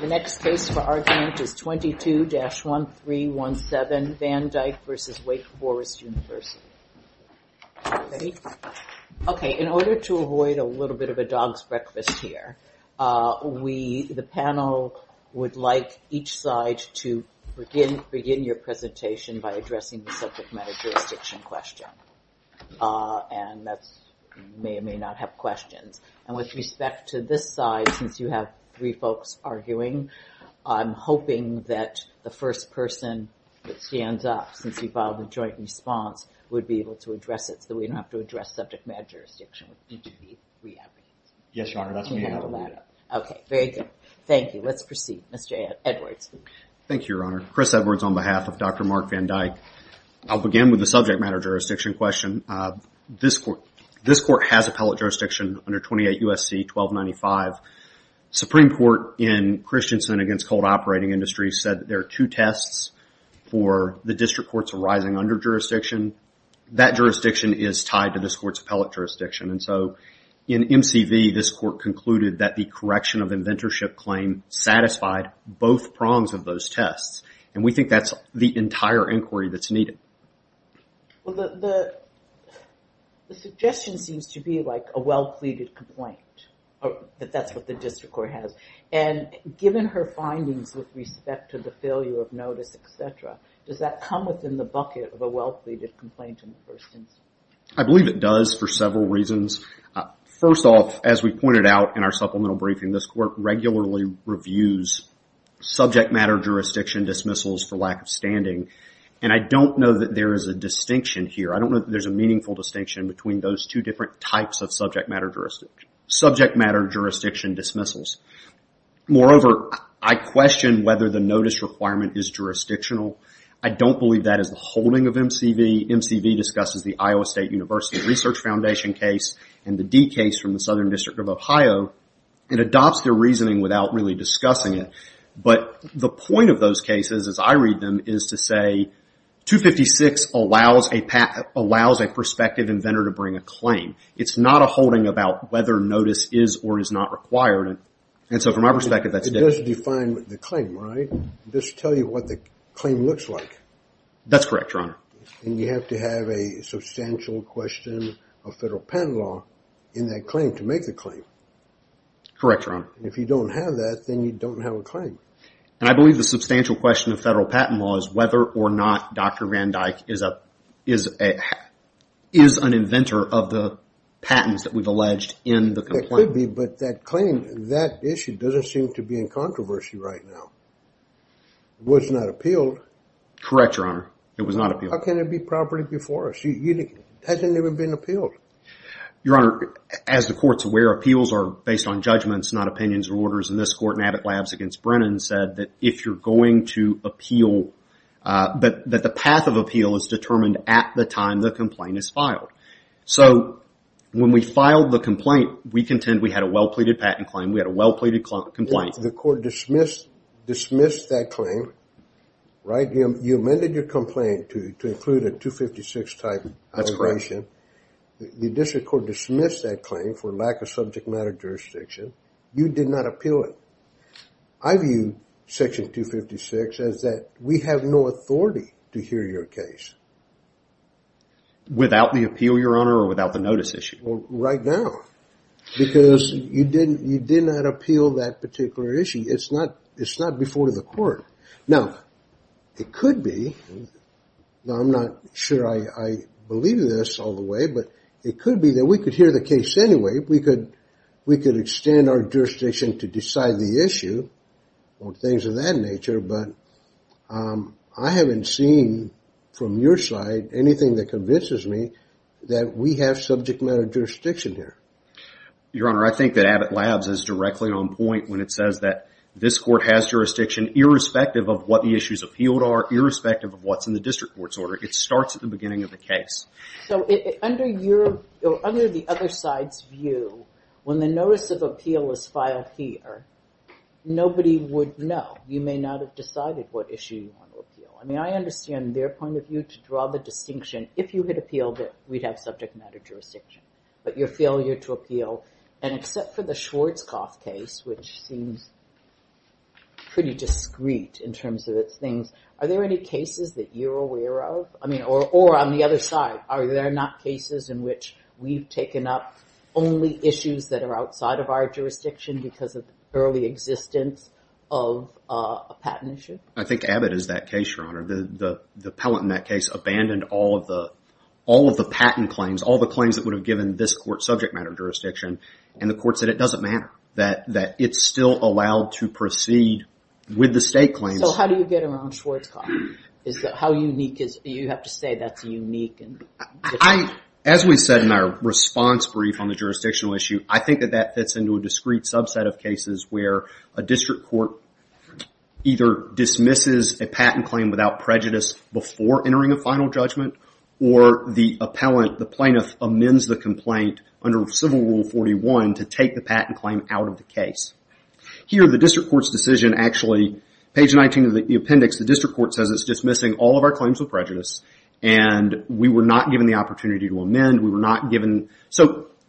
The next case for argument is 22-1317 Van Dyke v. Wake Forest University. In order to avoid a little bit of a dog's breakfast here, the panel would like each side to begin your presentation by addressing the subject matter jurisdiction question. With respect to this side, since you have three folks arguing, I'm hoping that the first person that stands up since you filed a joint response would be able to address it so that we don't have to address subject matter jurisdiction. Yes, Your Honor, that's me. Okay, very good. Thank you. Let's proceed. Mr. Edwards. Thank you, Your Honor. Chris Edwards on behalf of Dr. Mark Van Dyke. I'll begin with the subject matter jurisdiction question. This court has appellate jurisdiction under 28 U.S.C. 1295. Supreme Court in Christensen against Cold Operating Industries said that there are two tests for the district courts arising under jurisdiction. That jurisdiction is tied to this court's appellate jurisdiction. In MCV, this court concluded that the correction of inventorship claim satisfied both prongs of those tests. We think that's the entire inquiry that's needed. The suggestion seems to be like a well-pleaded complaint, that that's what the district court has. Given her findings with respect to the failure of notice, etc., does that come within the bucket of a well-pleaded complaint in the first instance? I believe it does for several reasons. First off, as we pointed out in our supplemental briefing, this court regularly reviews subject matter jurisdiction dismissals for lack of standing. And I don't know that there is a distinction here. I don't know that there's a meaningful distinction between those two different types of subject matter jurisdiction dismissals. Moreover, I question whether the notice requirement is jurisdictional. I don't believe that is the holding of MCV. MCV discusses the Iowa State University Research Foundation case and the D case from the Southern District of Ohio. It adopts their reasoning without really discussing it. But the point of those cases, as I read them, is to say 256 allows a prospective inventor to bring a claim. It's not a holding about whether notice is or is not required. And so from my perspective, that's different. It does define the claim, right? It does tell you what the claim looks like. That's correct, Your Honor. And you have to have a substantial question of federal patent law in that claim to make the claim. Correct, Your Honor. If you don't have that, then you don't have a claim. And I believe the substantial question of federal patent law is whether or not Dr. Van Dyck is an inventor of the patents that we've alleged in the complaint. It could be, but that claim, that issue doesn't seem to be in controversy right now. It was not appealed. Correct, Your Honor. It was not appealed. How can it be properly before us? It hasn't even been appealed. Your Honor, as the court's aware, appeals are based on judgments, not opinions or orders. And this court in Abbott Labs against Brennan said that if you're going to appeal, that the path of appeal is determined at the time the complaint is filed. So when we filed the complaint, we contend we had a well-pleaded patent claim. We had a well-pleaded complaint. The court dismissed that claim, right? You amended your complaint to include a 256-type allegation. That's correct. The district court dismissed that claim for lack of subject matter jurisdiction. You did not appeal it. I view Section 256 as that we have no authority to hear your case. Without the appeal, Your Honor, or without the notice issue? Right now. It's not before the court. Now, it could be. Now, I'm not sure I believe this all the way, but it could be that we could hear the case anyway. We could extend our jurisdiction to decide the issue or things of that nature. But I haven't seen from your side anything that convinces me that we have subject matter jurisdiction here. Your Honor, I think that Abbott Labs is directly on point when it says that this court has jurisdiction irrespective of what the issues appealed are, irrespective of what's in the district court's order. It starts at the beginning of the case. So under the other side's view, when the notice of appeal is filed here, nobody would know. You may not have decided what issue you want to appeal. I mean, I understand their point of view to draw the distinction. If you had appealed it, we'd have subject matter jurisdiction. But your failure to appeal, and except for the Schwarzkopf case, which seems pretty discreet in terms of its things, are there any cases that you're aware of? I mean, or on the other side, are there not cases in which we've taken up only issues that are outside of our jurisdiction because of early existence of a patent issue? The pellet in that case abandoned all of the patent claims, all the claims that would have given this court subject matter jurisdiction, and the court said it doesn't matter, that it's still allowed to proceed with the state claims. So how do you get around Schwarzkopf? How unique is it? You have to say that's unique. As we said in our response brief on the jurisdictional issue, I think that that fits into a discreet subset of cases where a district court either dismisses a patent claim without prejudice before entering a final judgment, or the plaintiff amends the complaint under Civil Rule 41 to take the patent claim out of the case. Here, the district court's decision, actually, page 19 of the appendix, the district court says it's dismissing all of our claims with prejudice,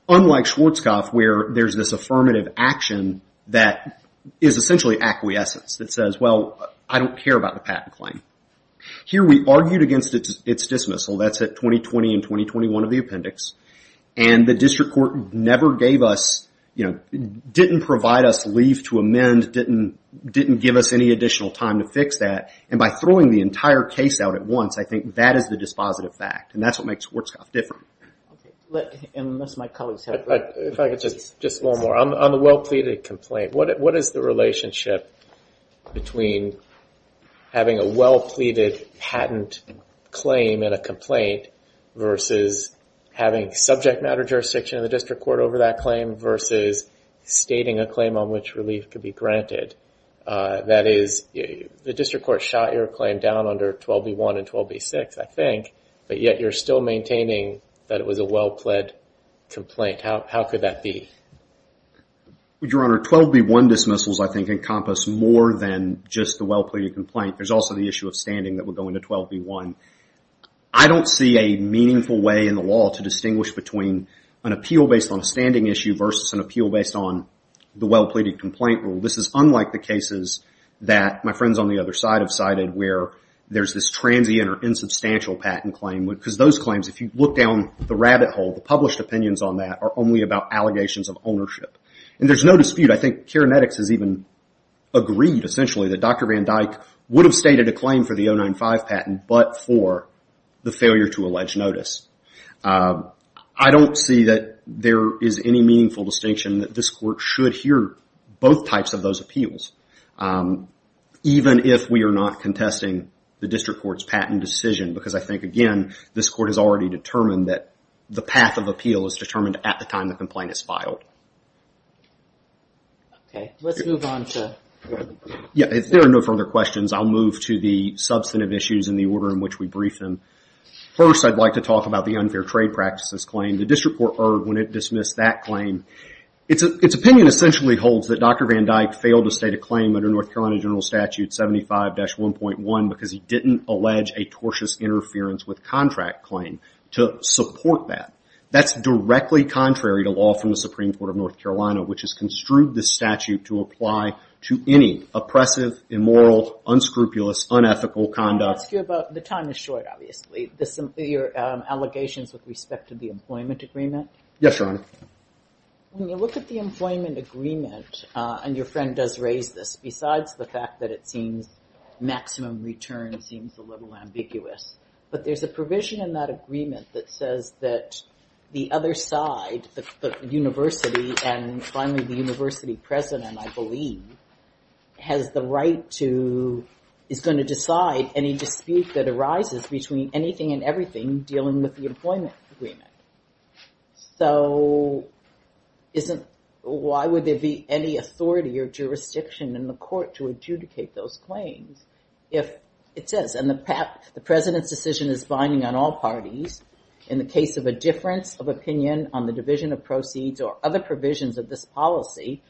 Unlike Schwarzkopf, where there's this affirmative action that is essentially acquiescence, that says, well, I don't care about the patent claim. Here, we argued against its dismissal, that's at 2020 and 2021 of the appendix, and the district court didn't provide us leave to amend, didn't give us any additional time to fix that, and by throwing the entire case out at once, I think that is the dispositive fact, and that's what makes Schwarzkopf different. Just one more, on the well-pleaded complaint, what is the relationship between having a well-pleaded patent claim in a complaint versus having subject matter jurisdiction in the district court over that claim, versus stating a claim on which relief could be granted? That is, the district court shot your claim down under 12b1 and 12b6, I think, but yet you're still maintaining that it was a well-plead complaint. How could that be? Your Honor, 12b1 dismissals, I think, encompass more than just the well-pleaded complaint. There's also the issue of standing that would go into 12b1. I don't see a meaningful way in the law to distinguish between an appeal based on a standing issue versus an appeal based on the well-pleaded complaint rule. This is unlike the cases that my friends on the other side have cited, where there's this transient or insubstantial patent claim, because those claims, if you look down the rabbit hole, the published opinions on that are only about allegations of ownership, and there's no dispute. I think Kerenetics has even agreed, essentially, that Dr. Van Dyck would have stated a claim for the 095 patent, but for the failure to allege notice. I don't see that there is any meaningful distinction, that this court should hear both types of those appeals, even if we are not contesting the district court's patent decision, because I think, again, this court has already determined that the path of appeal is determined at the time the complaint is filed. If there are no further questions, I'll move to the substantive issues in the order in which we brief them. First, I'd like to talk about the unfair trade practices claim. The district court erred when it dismissed that claim. Its opinion essentially holds that Dr. Van Dyck failed to state a claim under North Carolina General Statute 75-1.1, because he didn't allege a tortious interference with contract claim to support that. That's directly contrary to law from the Supreme Court of North Carolina, which has construed this statute to apply to any oppressive, immoral, unscrupulous, unethical conduct. The time is short, obviously. Your allegations with respect to the employment agreement? Yes, Your Honor. When you look at the employment agreement, and your friend does raise this, besides the fact that it seems maximum return seems a little ambiguous, but there's a provision in that agreement that says that the other side, the university, and finally the university president, I believe, has the right to, is going to decide any dispute that arises between anything and everything dealing with the employment agreement. So why would there be any authority or jurisdiction in the court to adjudicate those claims if it says, and the president's decision is binding on all parties, in the case of a difference of opinion on the division of proceeds or other provisions of this policy,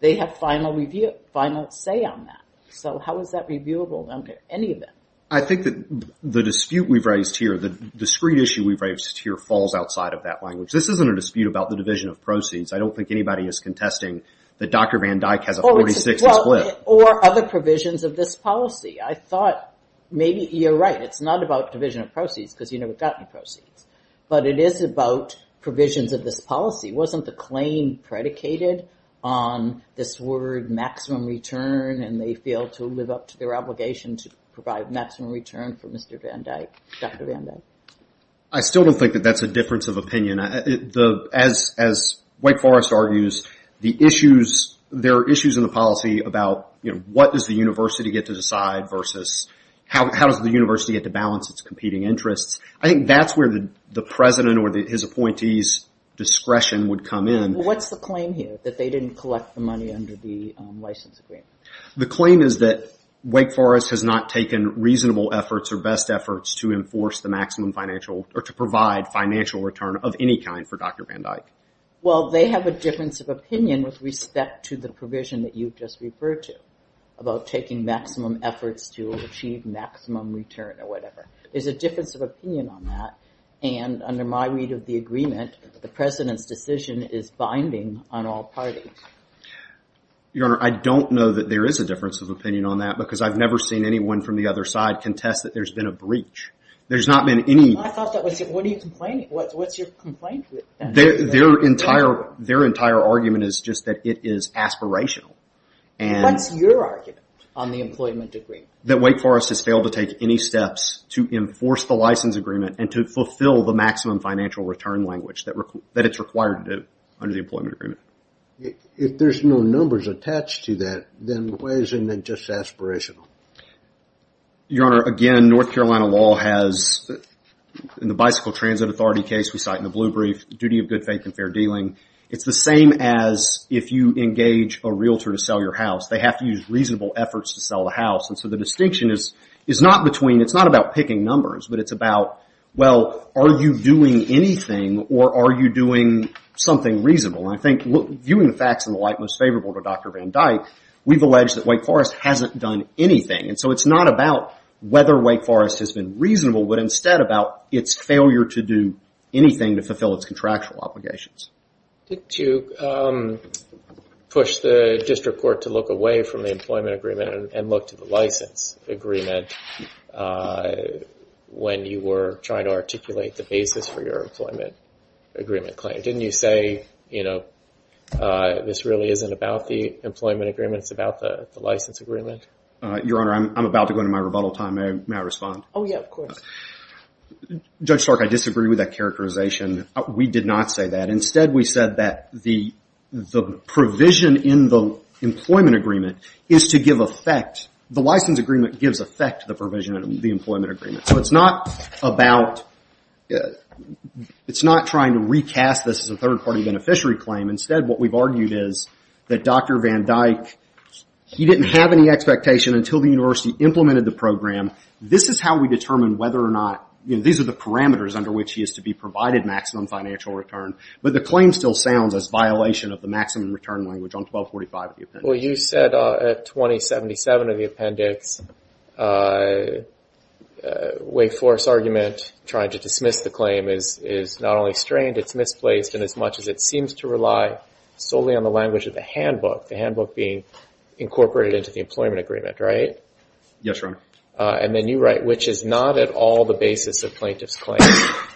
they have final say on that. So how is that reviewable under any of them? I think that the dispute we've raised here, the screen issue we've raised here falls outside of that language. This isn't a dispute about the division of proceeds. I don't think anybody is contesting that Dr. Van Dyke has a 46 and split. Or other provisions of this policy. I thought maybe you're right. It's not about division of proceeds because you never got any proceeds. But it is about provisions of this policy. Wasn't the claim predicated on this word maximum return and they failed to live up to their obligation to provide maximum return for Mr. Van Dyke, Dr. Van Dyke? I still don't think that that's a difference of opinion. As Wake Forest argues, there are issues in the policy about what does the university get to decide versus how does the university get to balance its competing interests. I think that's where the president or his appointee's discretion would come in. What's the claim here, that they didn't collect the money under the license agreement? The claim is that Wake Forest has not taken reasonable efforts or best efforts to enforce the maximum financial or to provide financial return of any kind for Dr. Van Dyke. Well, they have a difference of opinion with respect to the provision that you just referred to about taking maximum efforts to achieve maximum return or whatever. There's a difference of opinion on that. And under my read of the agreement, the president's decision is binding on all parties. Your Honor, I don't know that there is a difference of opinion on that because I've never seen anyone from the other side contest that there's been a breach. There's not been any... I thought that was it. What are you complaining? What's your complaint? Their entire argument is just that it is aspirational. What's your argument on the employment agreement? That Wake Forest has failed to take any steps to enforce the license agreement and to fulfill the maximum financial return language that it's required to do under the employment agreement? If there's no numbers attached to that, then why isn't it just aspirational? Your Honor, again, North Carolina law has, in the Bicycle Transit Authority case we cite in the blue brief, duty of good faith and fair dealing. It's the same as if you engage a realtor to sell your house. They have to use reasonable efforts to sell the house. And so the distinction is not between... It's not about picking numbers, but it's about, well, are you doing anything or are you doing something reasonable? And I think viewing the facts in the light most favorable to Dr. Van Dyke, we've alleged that Wake Forest hasn't done anything. And so it's not about whether Wake Forest has been reasonable, but instead about its failure to do anything to fulfill its contractual obligations. Did you push the district court to look away from the employment agreement and look to the license agreement when you were trying to articulate the basis for your employment agreement claim? Didn't you say, you know, this really isn't about the employment agreement, it's about the license agreement? Your Honor, I'm about to go into my rebuttal time. May I respond? Oh, yeah, of course. Judge Stark, I disagree with that characterization. We did not say that. Instead, we said that the provision in the employment agreement is to give effect, the license agreement gives effect to the provision in the employment agreement. So it's not about, it's not trying to recast this as a third-party beneficiary claim. Instead, what we've argued is that Dr. Van Dyke, he didn't have any expectation until the university implemented the program. This is how we determine whether or not, you know, these are the parameters under which he is to be provided maximum financial return. But the claim still sounds as violation of the maximum return language on 1245. Well, you said at 2077 of the appendix, Wake Forest argument tried to dismiss the claim is not only strained, it's misplaced in as much as it seems to rely solely on the language of the handbook, the handbook being incorporated into the employment agreement, right? Yes, Your Honor. And then you write, which is not at all the basis of plaintiff's claim.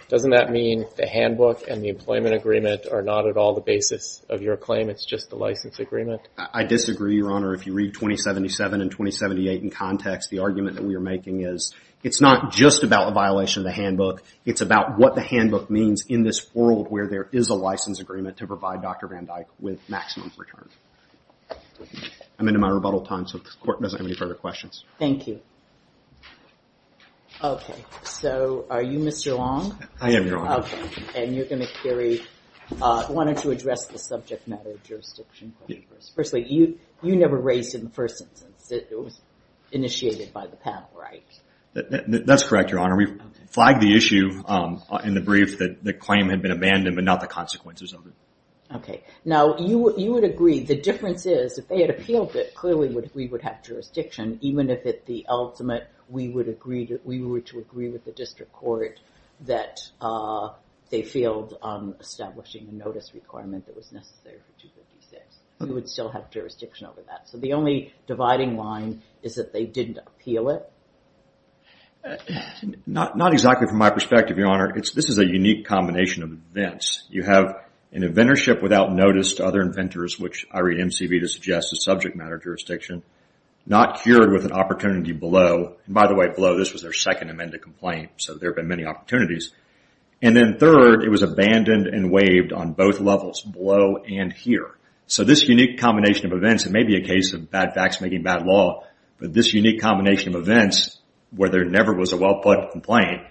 Doesn't that mean the handbook and the employment agreement are not at all the basis of your claim, it's just the license agreement? I disagree, Your Honor. If you read 2077 and 2078 in context, the argument that we are making is it's not just about a violation of the handbook, it's about what the handbook means in this world where there is a license agreement to provide Dr. Van Dyke with maximum return. I'm into my rebuttal time, so if the Court doesn't have any further questions. Okay, so are you Mr. Long? I am, Your Honor. Okay, and you're going to carry, why don't you address the subject matter of jurisdiction? Firstly, you never raised it in the first instance. It was initiated by the panel, right? That's correct, Your Honor. We flagged the issue in the brief that the claim had been abandoned, but not the consequences of it. Okay. Now, you would agree the difference is if they had appealed it, clearly we would have jurisdiction, even if at the ultimate we were to agree with the district court that they failed on establishing a notice requirement that was necessary for 256. We would still have jurisdiction over that. So the only dividing line is that they didn't appeal it? Not exactly from my perspective, Your Honor. This is a unique combination of events. You have an inventorship without notice to other inventors, which I read MCV to suggest is subject matter jurisdiction, not cured with an opportunity below. By the way, below, this was their second amended complaint, so there have been many opportunities. And then third, it was abandoned and waived on both levels, below and here. So this unique combination of events, it may be a case of bad facts making bad law, but this unique combination of events where there never was a well-put complaint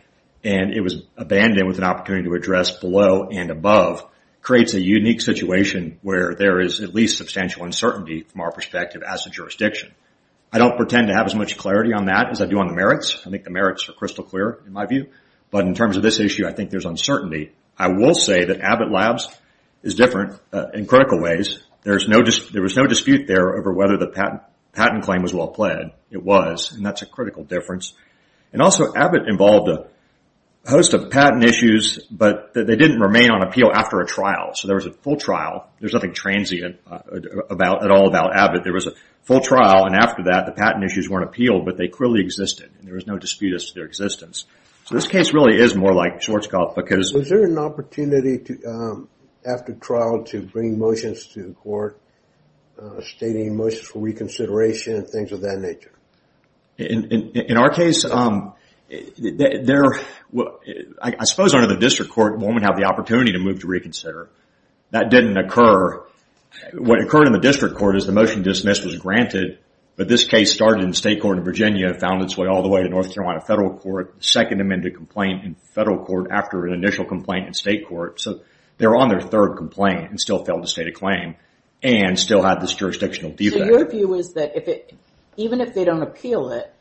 and it was abandoned with an opportunity to address below and above, creates a unique situation where there is at least substantial uncertainty from our perspective as a jurisdiction. I don't pretend to have as much clarity on that as I do on the merits. I think the merits are crystal clear in my view. But in terms of this issue, I think there's uncertainty. I will say that Abbott Labs is different in critical ways. There was no dispute there over whether the patent claim was well pled. It was, and that's a critical difference. And also, Abbott involved a host of patent issues, but they didn't remain on appeal after a trial. So there was a full trial. There's nothing transient at all about Abbott. There was a full trial, and after that, the patent issues weren't appealed, but they clearly existed, and there was no dispute as to their existence. So this case really is more like Schwarzkopf because... Was there an opportunity after trial to bring motions to court, stating motions for reconsideration and things of that nature? In our case, I suppose under the district court, one would have the opportunity to move to reconsider. That didn't occur. What occurred in the district court is the motion dismissed was granted, but this case started in state court in Virginia, found its way all the way to North Carolina federal court, second amended complaint in federal court after an initial complaint in state court. So they were on their third complaint and still failed to state a claim and still had this jurisdictional defect. So your view is that even if they don't appeal it,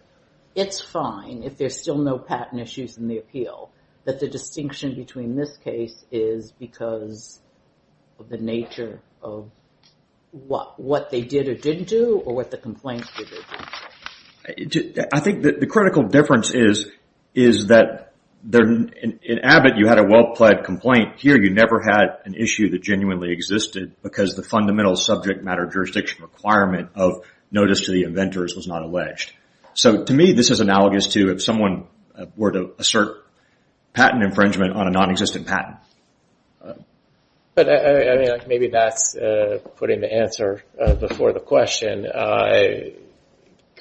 it's fine if there's still no patent issues in the appeal, that the distinction between this case is because of the nature of what they did or didn't do or what the complaints did or didn't do? I think the critical difference is that in Abbott, you had a well-plaid complaint. Here, you never had an issue that genuinely existed because the fundamental subject matter jurisdiction requirement of notice to the inventors was not alleged. To me, this is analogous to if someone were to assert patent infringement on a non-existent patent. Maybe that's putting the answer before the question.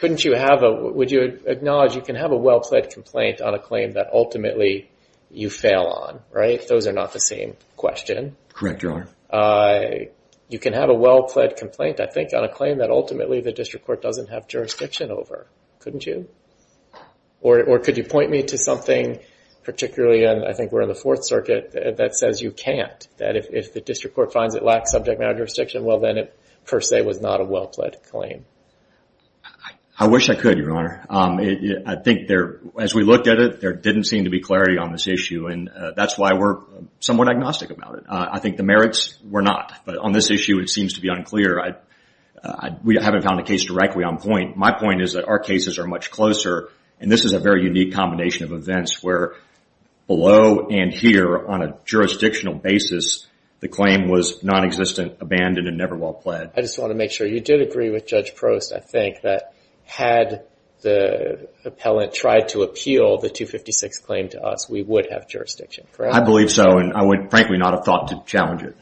Would you acknowledge you can have a well-plaid complaint on a claim that ultimately you fail on? Those are not the same question. Correct, Your Honor. You can have a well-plaid complaint, I think, on a claim that ultimately the district court doesn't have jurisdiction over. Couldn't you? Or could you point me to something, particularly, I think we're in the Fourth Circuit, that says you can't, that if the district court finds it lacks subject matter jurisdiction, well then it per se was not a well-plaid claim. I wish I could, Your Honor. I think as we looked at it, there didn't seem to be clarity on this issue, and that's why we're somewhat agnostic about it. I think the merits were not, but on this issue it seems to be unclear. We haven't found a case directly on point. My point is that our cases are much closer, and this is a very unique combination of events where below and here, on a jurisdictional basis, the claim was non-existent, abandoned, and never well-plaid. I just want to make sure you did agree with Judge Prost, I think, that had the appellant tried to appeal the 256 claim to us, we would have jurisdiction, correct? I believe so, and I would, frankly, not have thought to challenge it.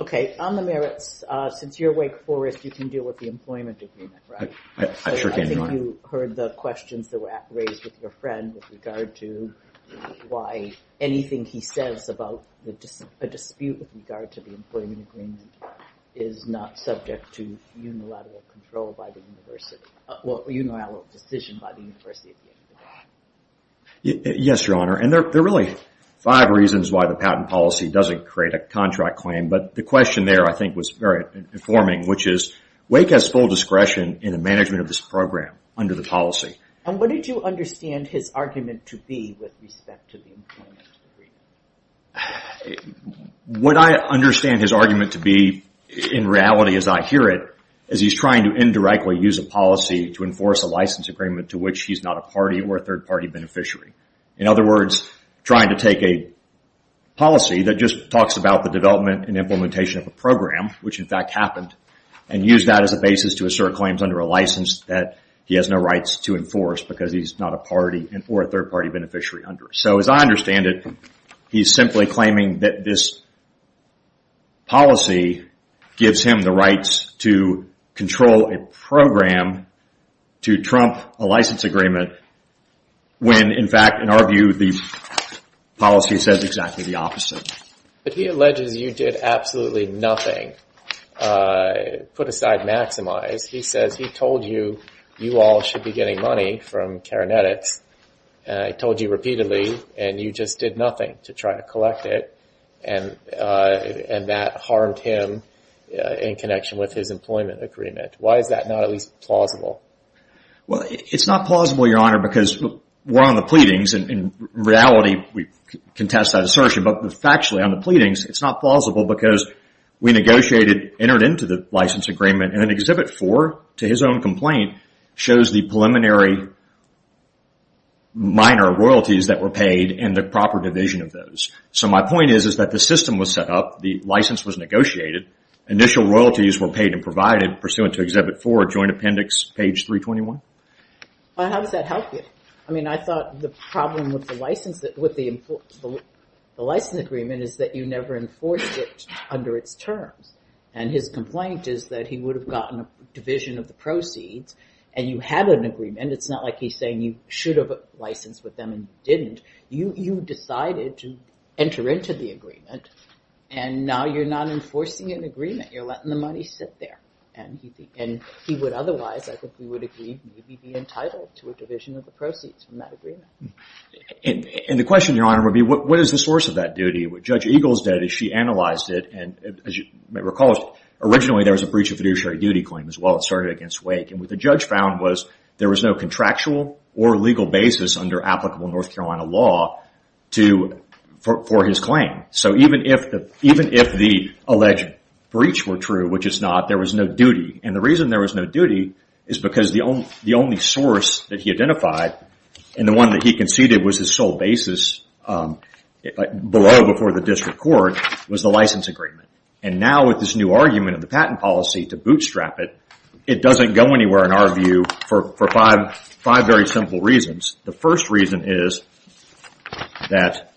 Okay, on the merits, since you're Wake Forest, you can deal with the employment agreement, right? I sure can, Your Honor. I think you heard the questions that were raised with your friend with regard to why anything he says about a dispute with regard to the employment agreement is not subject to unilateral control by the university, well, unilateral decision by the university at the end of the day. Yes, Your Honor, and there are really five reasons why the patent policy doesn't create a contract claim, but the question there, I think, was very informing, which is Wake has full discretion in the management of this program under the policy. And what did you understand his argument to be with respect to the employment agreement? What I understand his argument to be, in reality, as I hear it, is he's trying to indirectly use a policy to enforce a license agreement to which he's not a party or a third-party beneficiary. In other words, trying to take a policy that just talks about the development and implementation of a program, which, in fact, happened, and use that as a basis to assert claims under a license that he has no rights to enforce because he's not a party or a third-party beneficiary under it. So, as I understand it, he's simply claiming that this policy gives him the rights to control a program to trump a license agreement when, in fact, in our view, the policy says exactly the opposite. But he alleges you did absolutely nothing. Put aside maximize. He says he told you you all should be getting money from Karenetics, and I told you repeatedly, and you just did nothing to try to collect it, and that harmed him in connection with his employment agreement. Why is that not at least plausible? Well, it's not plausible, Your Honor, because we're on the pleadings, and in reality, we contest that assertion, but factually, on the pleadings, it's not plausible because we negotiated, entered into the license agreement, and then Exhibit 4, to his own complaint, shows the preliminary minor royalties that were paid and the proper division of those. So my point is that the system was set up. The license was negotiated. Initial royalties were paid and provided pursuant to Exhibit 4, Joint Appendix, page 321. How does that help you? I mean, I thought the problem with the license agreement is that you never enforced it under its terms, and his complaint is that he would have gotten a division of the proceeds, and you had an agreement. It's not like he's saying you should have licensed with them and didn't. You decided to enter into the agreement, and now you're not enforcing an agreement. You're letting the money sit there, and he would otherwise, I think we would agree, maybe be entitled to a division of the proceeds from that agreement. And the question, Your Honor, would be, what is the source of that duty? What Judge Eagles did is she analyzed it, and as you may recall, originally there was a breach of fiduciary duty claim as well. It started against Wake, and what the judge found was there was no contractual or legal basis under applicable North Carolina law for his claim. So even if the alleged breach were true, which it's not, there was no duty. And the reason there was no duty is because the only source that he identified, and the one that he conceded was his sole basis below before the district court, was the license agreement. And now with this new argument of the patent policy to bootstrap it, it doesn't go anywhere in our view for five very simple reasons. The first reason is that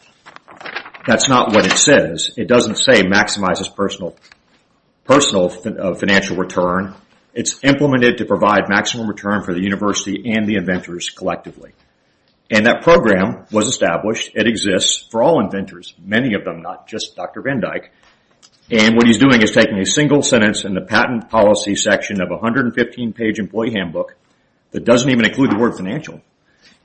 that's not what it says. It doesn't say maximizes personal financial return. It's implemented to provide maximum return for the university and the inventors collectively. And that program was established. It exists for all inventors, many of them, not just Dr. Van Dyke. And what he's doing is taking a single sentence in the patent policy section of a 115-page employee handbook that doesn't even include the word financial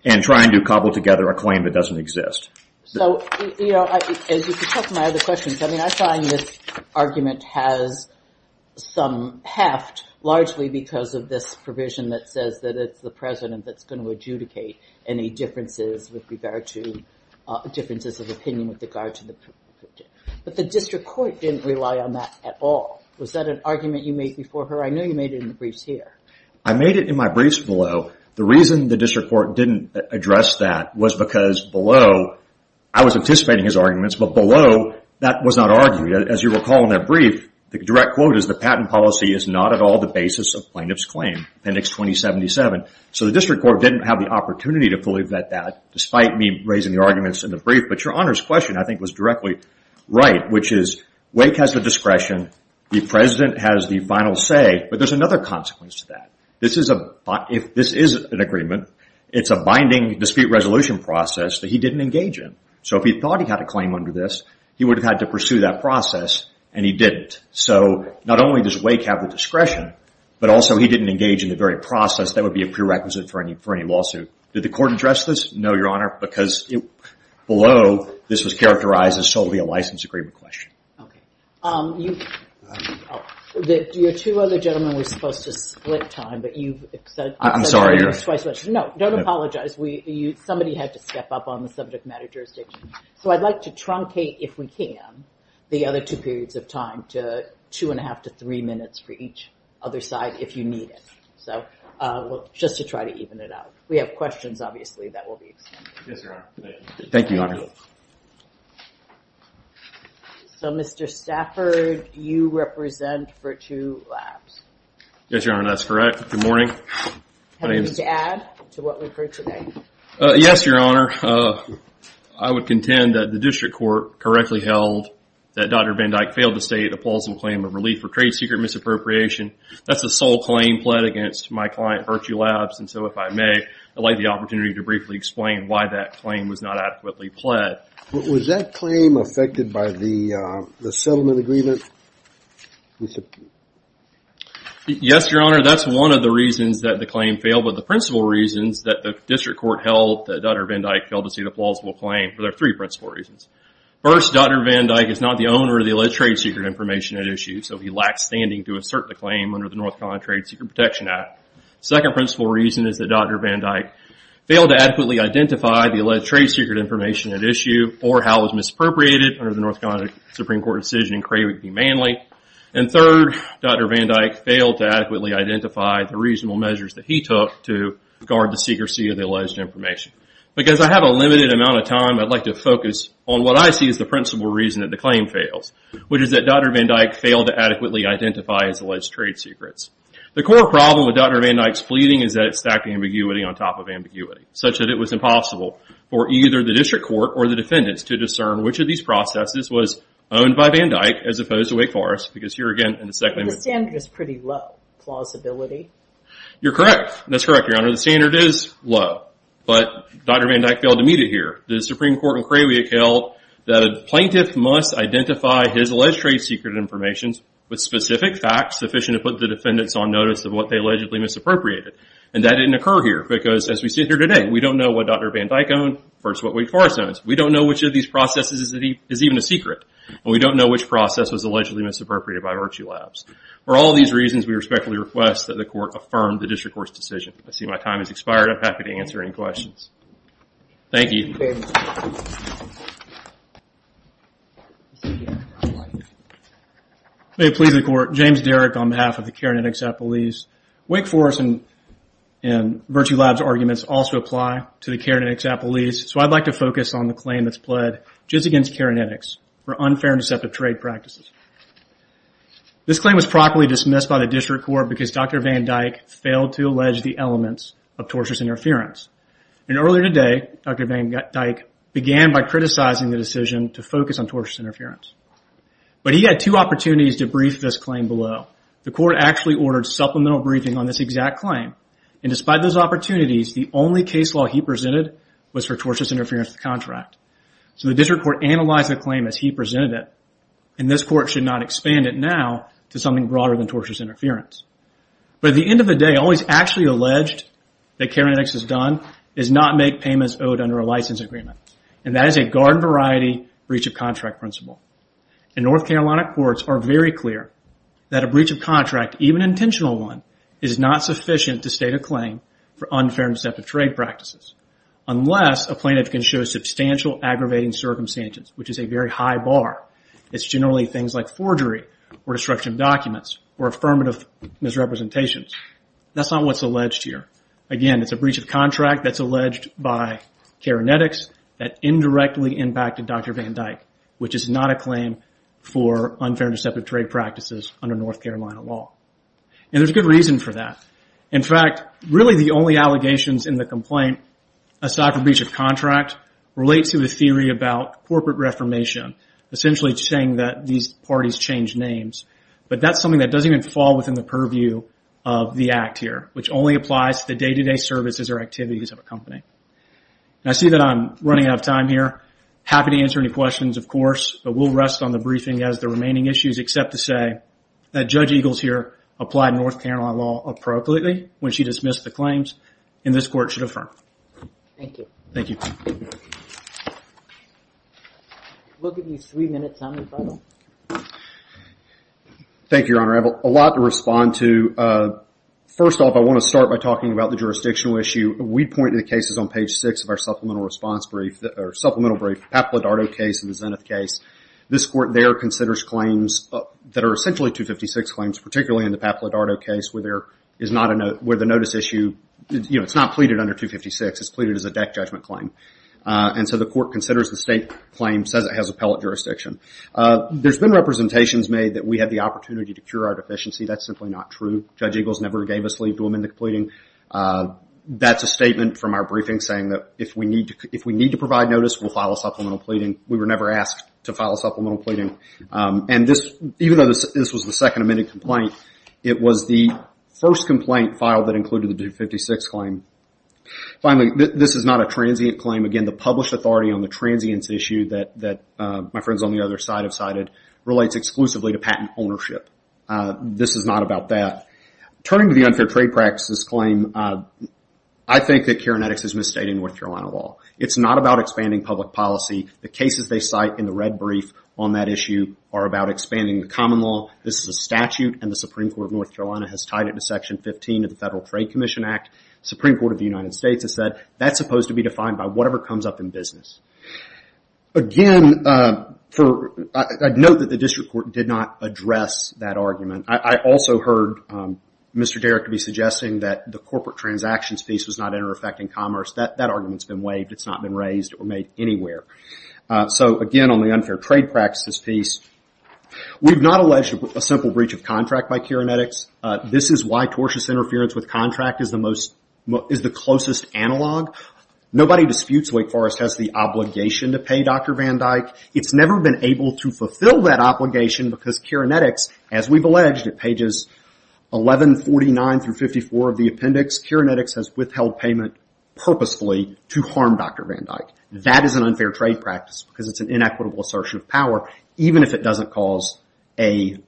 and trying to cobble together a claim that doesn't exist. So, you know, as you can tell from my other questions, I mean, I find this argument has some heft, largely because of this provision that says that it's the president that's going to adjudicate any differences with regard to differences of opinion with regard to the provision. But the district court didn't rely on that at all. Was that an argument you made before her? I know you made it in the briefs here. I made it in my briefs below. The reason the district court didn't address that was because below, I was anticipating his arguments, but below, that was not argued. As you recall in that brief, the direct quote is the patent policy is not at all the basis of plaintiff's claim, Appendix 2077. So the district court didn't have the opportunity to fully vet that, despite me raising the arguments in the brief. But Your Honor's question, I think, was directly right, which is Wake has the discretion, the president has the final say, but there's another consequence to that. This is an agreement. It's a binding dispute resolution process that he didn't engage in. So if he thought he had a claim under this, he would have had to pursue that process, and he didn't. So not only does Wake have the discretion, but also he didn't engage in the very process that would be a prerequisite for any lawsuit. Did the court address this? No, Your Honor, because below, this was characterized as solely a license agreement question. Okay. Your two other gentlemen were supposed to split time, but you've said... I'm sorry, Your Honor. No, don't apologize. Somebody had to step up on the subject matter jurisdiction. So I'd like to truncate, if we can, the other two periods of time to two and a half to three minutes for each other side, if you need it. So just to try to even it out. We have questions, obviously, that will be extended. Yes, Your Honor. Thank you, Your Honor. Good morning. So, Mr. Stafford, you represent Virtue Labs. Yes, Your Honor, that's correct. Good morning. Anything to add to what we've heard today? Yes, Your Honor. I would contend that the district court correctly held that Dr. Van Dyke failed to state a plausible claim of relief for trade secret misappropriation. That's the sole claim pled against my client, Virtue Labs. And so, if I may, I'd like the opportunity to briefly explain why that claim was not adequately pled. Was that claim affected by the settlement agreement? Yes, Your Honor, that's one of the reasons that the claim failed, but the principal reasons that the district court held that Dr. Van Dyke failed to state a plausible claim, there are three principal reasons. First, Dr. Van Dyke is not the owner of the alleged trade secret information at issue, so he lacks standing to assert the claim under the North Carolina Trade Secret Protection Act. Second principal reason is that Dr. Van Dyke failed to adequately identify the alleged trade secret information at issue or how it was misappropriated under the North Carolina Supreme Court decision in Cravey v. Manley. And third, Dr. Van Dyke failed to adequately identify the reasonable measures that he took to guard the secrecy of the alleged information. Because I have a limited amount of time, I'd like to focus on what I see as the principal reason that the claim fails, which is that Dr. Van Dyke failed to adequately identify his alleged trade secrets. The core problem with Dr. Van Dyke's pleading is that it stacked ambiguity on top of ambiguity, such that it was impossible for either the district court or the defendants to discern which of these processes was owned by Van Dyke as opposed to Wake Forest, because here again in the second... But the standard is pretty low, plausibility. You're correct. That's correct, Your Honor. The standard is low. But Dr. Van Dyke failed to meet it here. The Supreme Court in Cravey held that a plaintiff must identify his alleged trade secret information with specific facts sufficient to put the defendants on notice of what they allegedly misappropriated. And that didn't occur here, because as we sit here today, we don't know what Dr. Van Dyke owned versus what Wake Forest owns. We don't know which of these processes is even a secret. And we don't know which process was allegedly misappropriated by Virtue Labs. For all these reasons, we respectfully request that the court affirm the district court's decision. I see my time has expired. I'm happy to answer any questions. Thank you. May it please the court, I'm James Derrick on behalf of the Karenetics Appellees. Wake Forest and Virtue Labs' arguments also apply to the Karenetics Appellees, so I'd like to focus on the claim that's pled just against Karenetics for unfair and deceptive trade practices. This claim was properly dismissed by the district court because Dr. Van Dyke failed to allege the elements of tortious interference. And earlier today, Dr. Van Dyke began by criticizing the decision to focus on tortious interference. But he had two opportunities to brief this claim below. The court actually ordered supplemental briefing on this exact claim. And despite those opportunities, the only case law he presented was for tortious interference with the contract. So the district court analyzed the claim as he presented it, and this court should not expand it now to something broader than tortious interference. But at the end of the day, all he's actually alleged that Karenetics has done is not make payments owed under a license agreement. And that is a garden-variety breach-of-contract principle. And North Carolina courts are very clear that a breach of contract, even an intentional one, is not sufficient to state a claim for unfair and deceptive trade practices, unless a plaintiff can show substantial aggravating circumstances, which is a very high bar. It's generally things like forgery or destruction of documents or affirmative misrepresentations. That's not what's alleged here. Again, it's a breach of contract that's alleged by Karenetics that indirectly impacted Dr. Van Dyke, which is not a claim for unfair and deceptive trade practices under North Carolina law. And there's good reason for that. In fact, really the only allegations in the complaint, aside from breach of contract, relate to the theory about corporate reformation, essentially saying that these parties change names. But that's something that doesn't even fall within the purview of the Act here, which only applies to the day-to-day services or activities of a company. I see that I'm running out of time here. Happy to answer any questions, of course, but we'll rest on the briefing as the remaining issues, except to say that Judge Eagles here applied North Carolina law appropriately when she dismissed the claims, and this Court should affirm. Thank you. Thank you. We'll give you three minutes on the phone. Thank you, Your Honor. I have a lot to respond to. First off, I want to start by talking about the jurisdictional issue. We point to the cases on page six of our supplemental response brief, or supplemental brief, the Papp-Lodardo case and the Zenith case. This Court there considers claims that are essentially 256 claims, particularly in the Papp-Lodardo case, where the notice issue, you know, it's not pleaded under 256. It's pleaded as a deck judgment claim. And so the Court considers the state claim, says it has appellate jurisdiction. There's been representations made that we have the opportunity to cure our deficiency. That's simply not true. Judge Eagles never gave us leave to amend the pleading. That's a statement from our briefing saying that if we need to provide notice, we'll file a supplemental pleading. We were never asked to file a supplemental pleading. And even though this was the second amended complaint, it was the first complaint filed that included the 256 claim. Finally, this is not a transient claim. Again, the published authority on the transience issue that my friends on the other side have cited relates exclusively to patent ownership. This is not about that. Turning to the unfair trade practices claim, I think that Karen Eddix has misstated North Carolina law. It's not about expanding public policy. The cases they cite in the red brief on that issue are about expanding the common law. This is a statute, and the Supreme Court of North Carolina has tied it to Section 15 of the Federal Trade Commission Act. The Supreme Court of the United States has said that's supposed to be defined Again, I'd note that the District Court did not address that argument. I also heard Mr. Derrick be suggesting that the corporate transactions piece was not interfecting commerce. That argument's been waived. It's not been raised or made anywhere. Again, on the unfair trade practices piece, we've not alleged a simple breach of contract by Karen Eddix. This is why tortious interference with contract is the closest analog. Nobody disputes Wake Forest has the obligation to pay Dr. Van Dyke. It's never been able to fulfill that obligation because Karen Eddix, as we've alleged, at pages 1149 through 54 of the appendix, Karen Eddix has withheld payment purposefully to harm Dr. Van Dyke. That is an unfair trade practice because it's an inequitable assertion of power, even if it doesn't cause a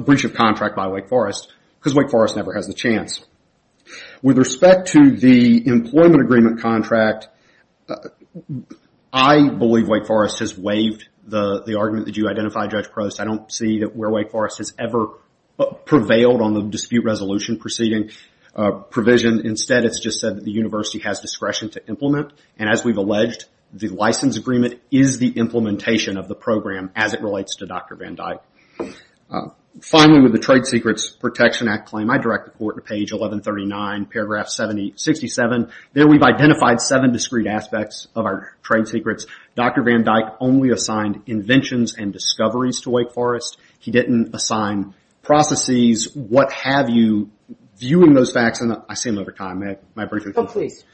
breach of contract by Wake Forest, because Wake Forest never has the chance. With respect to the employment agreement contract, I believe Wake Forest has waived the argument that you identified, Judge Prost. I don't see that Wake Forest has ever prevailed on the dispute resolution proceeding provision. Instead, it's just said that the university has discretion to implement, and as we've alleged, the license agreement is the implementation of the program as it relates to Dr. Van Dyke. Finally, with the Trade Secrets Protection Act claim, I direct the court to page 1139, paragraph 67. There we've identified seven discrete aspects of our trade secrets. Dr. Van Dyke only assigned inventions and discoveries to Wake Forest. He didn't assign processes, what have you, viewing those facts in the... I say them every time. May I break it? Oh, please.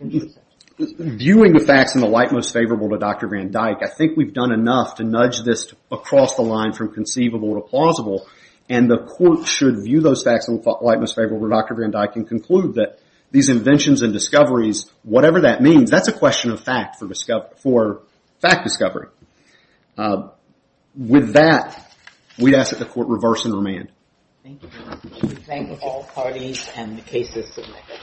Viewing the facts in the light most favorable to Dr. Van Dyke, I think we've done enough to nudge this across the line from conceivable to plausible, and the court should view those facts in the light most favorable to Dr. Van Dyke and conclude that these inventions and discoveries, whatever that means, that's a question of fact for fact discovery. With that, we ask that the court reverse and remand. Thank you, Your Honor. We thank all parties and the cases submitted.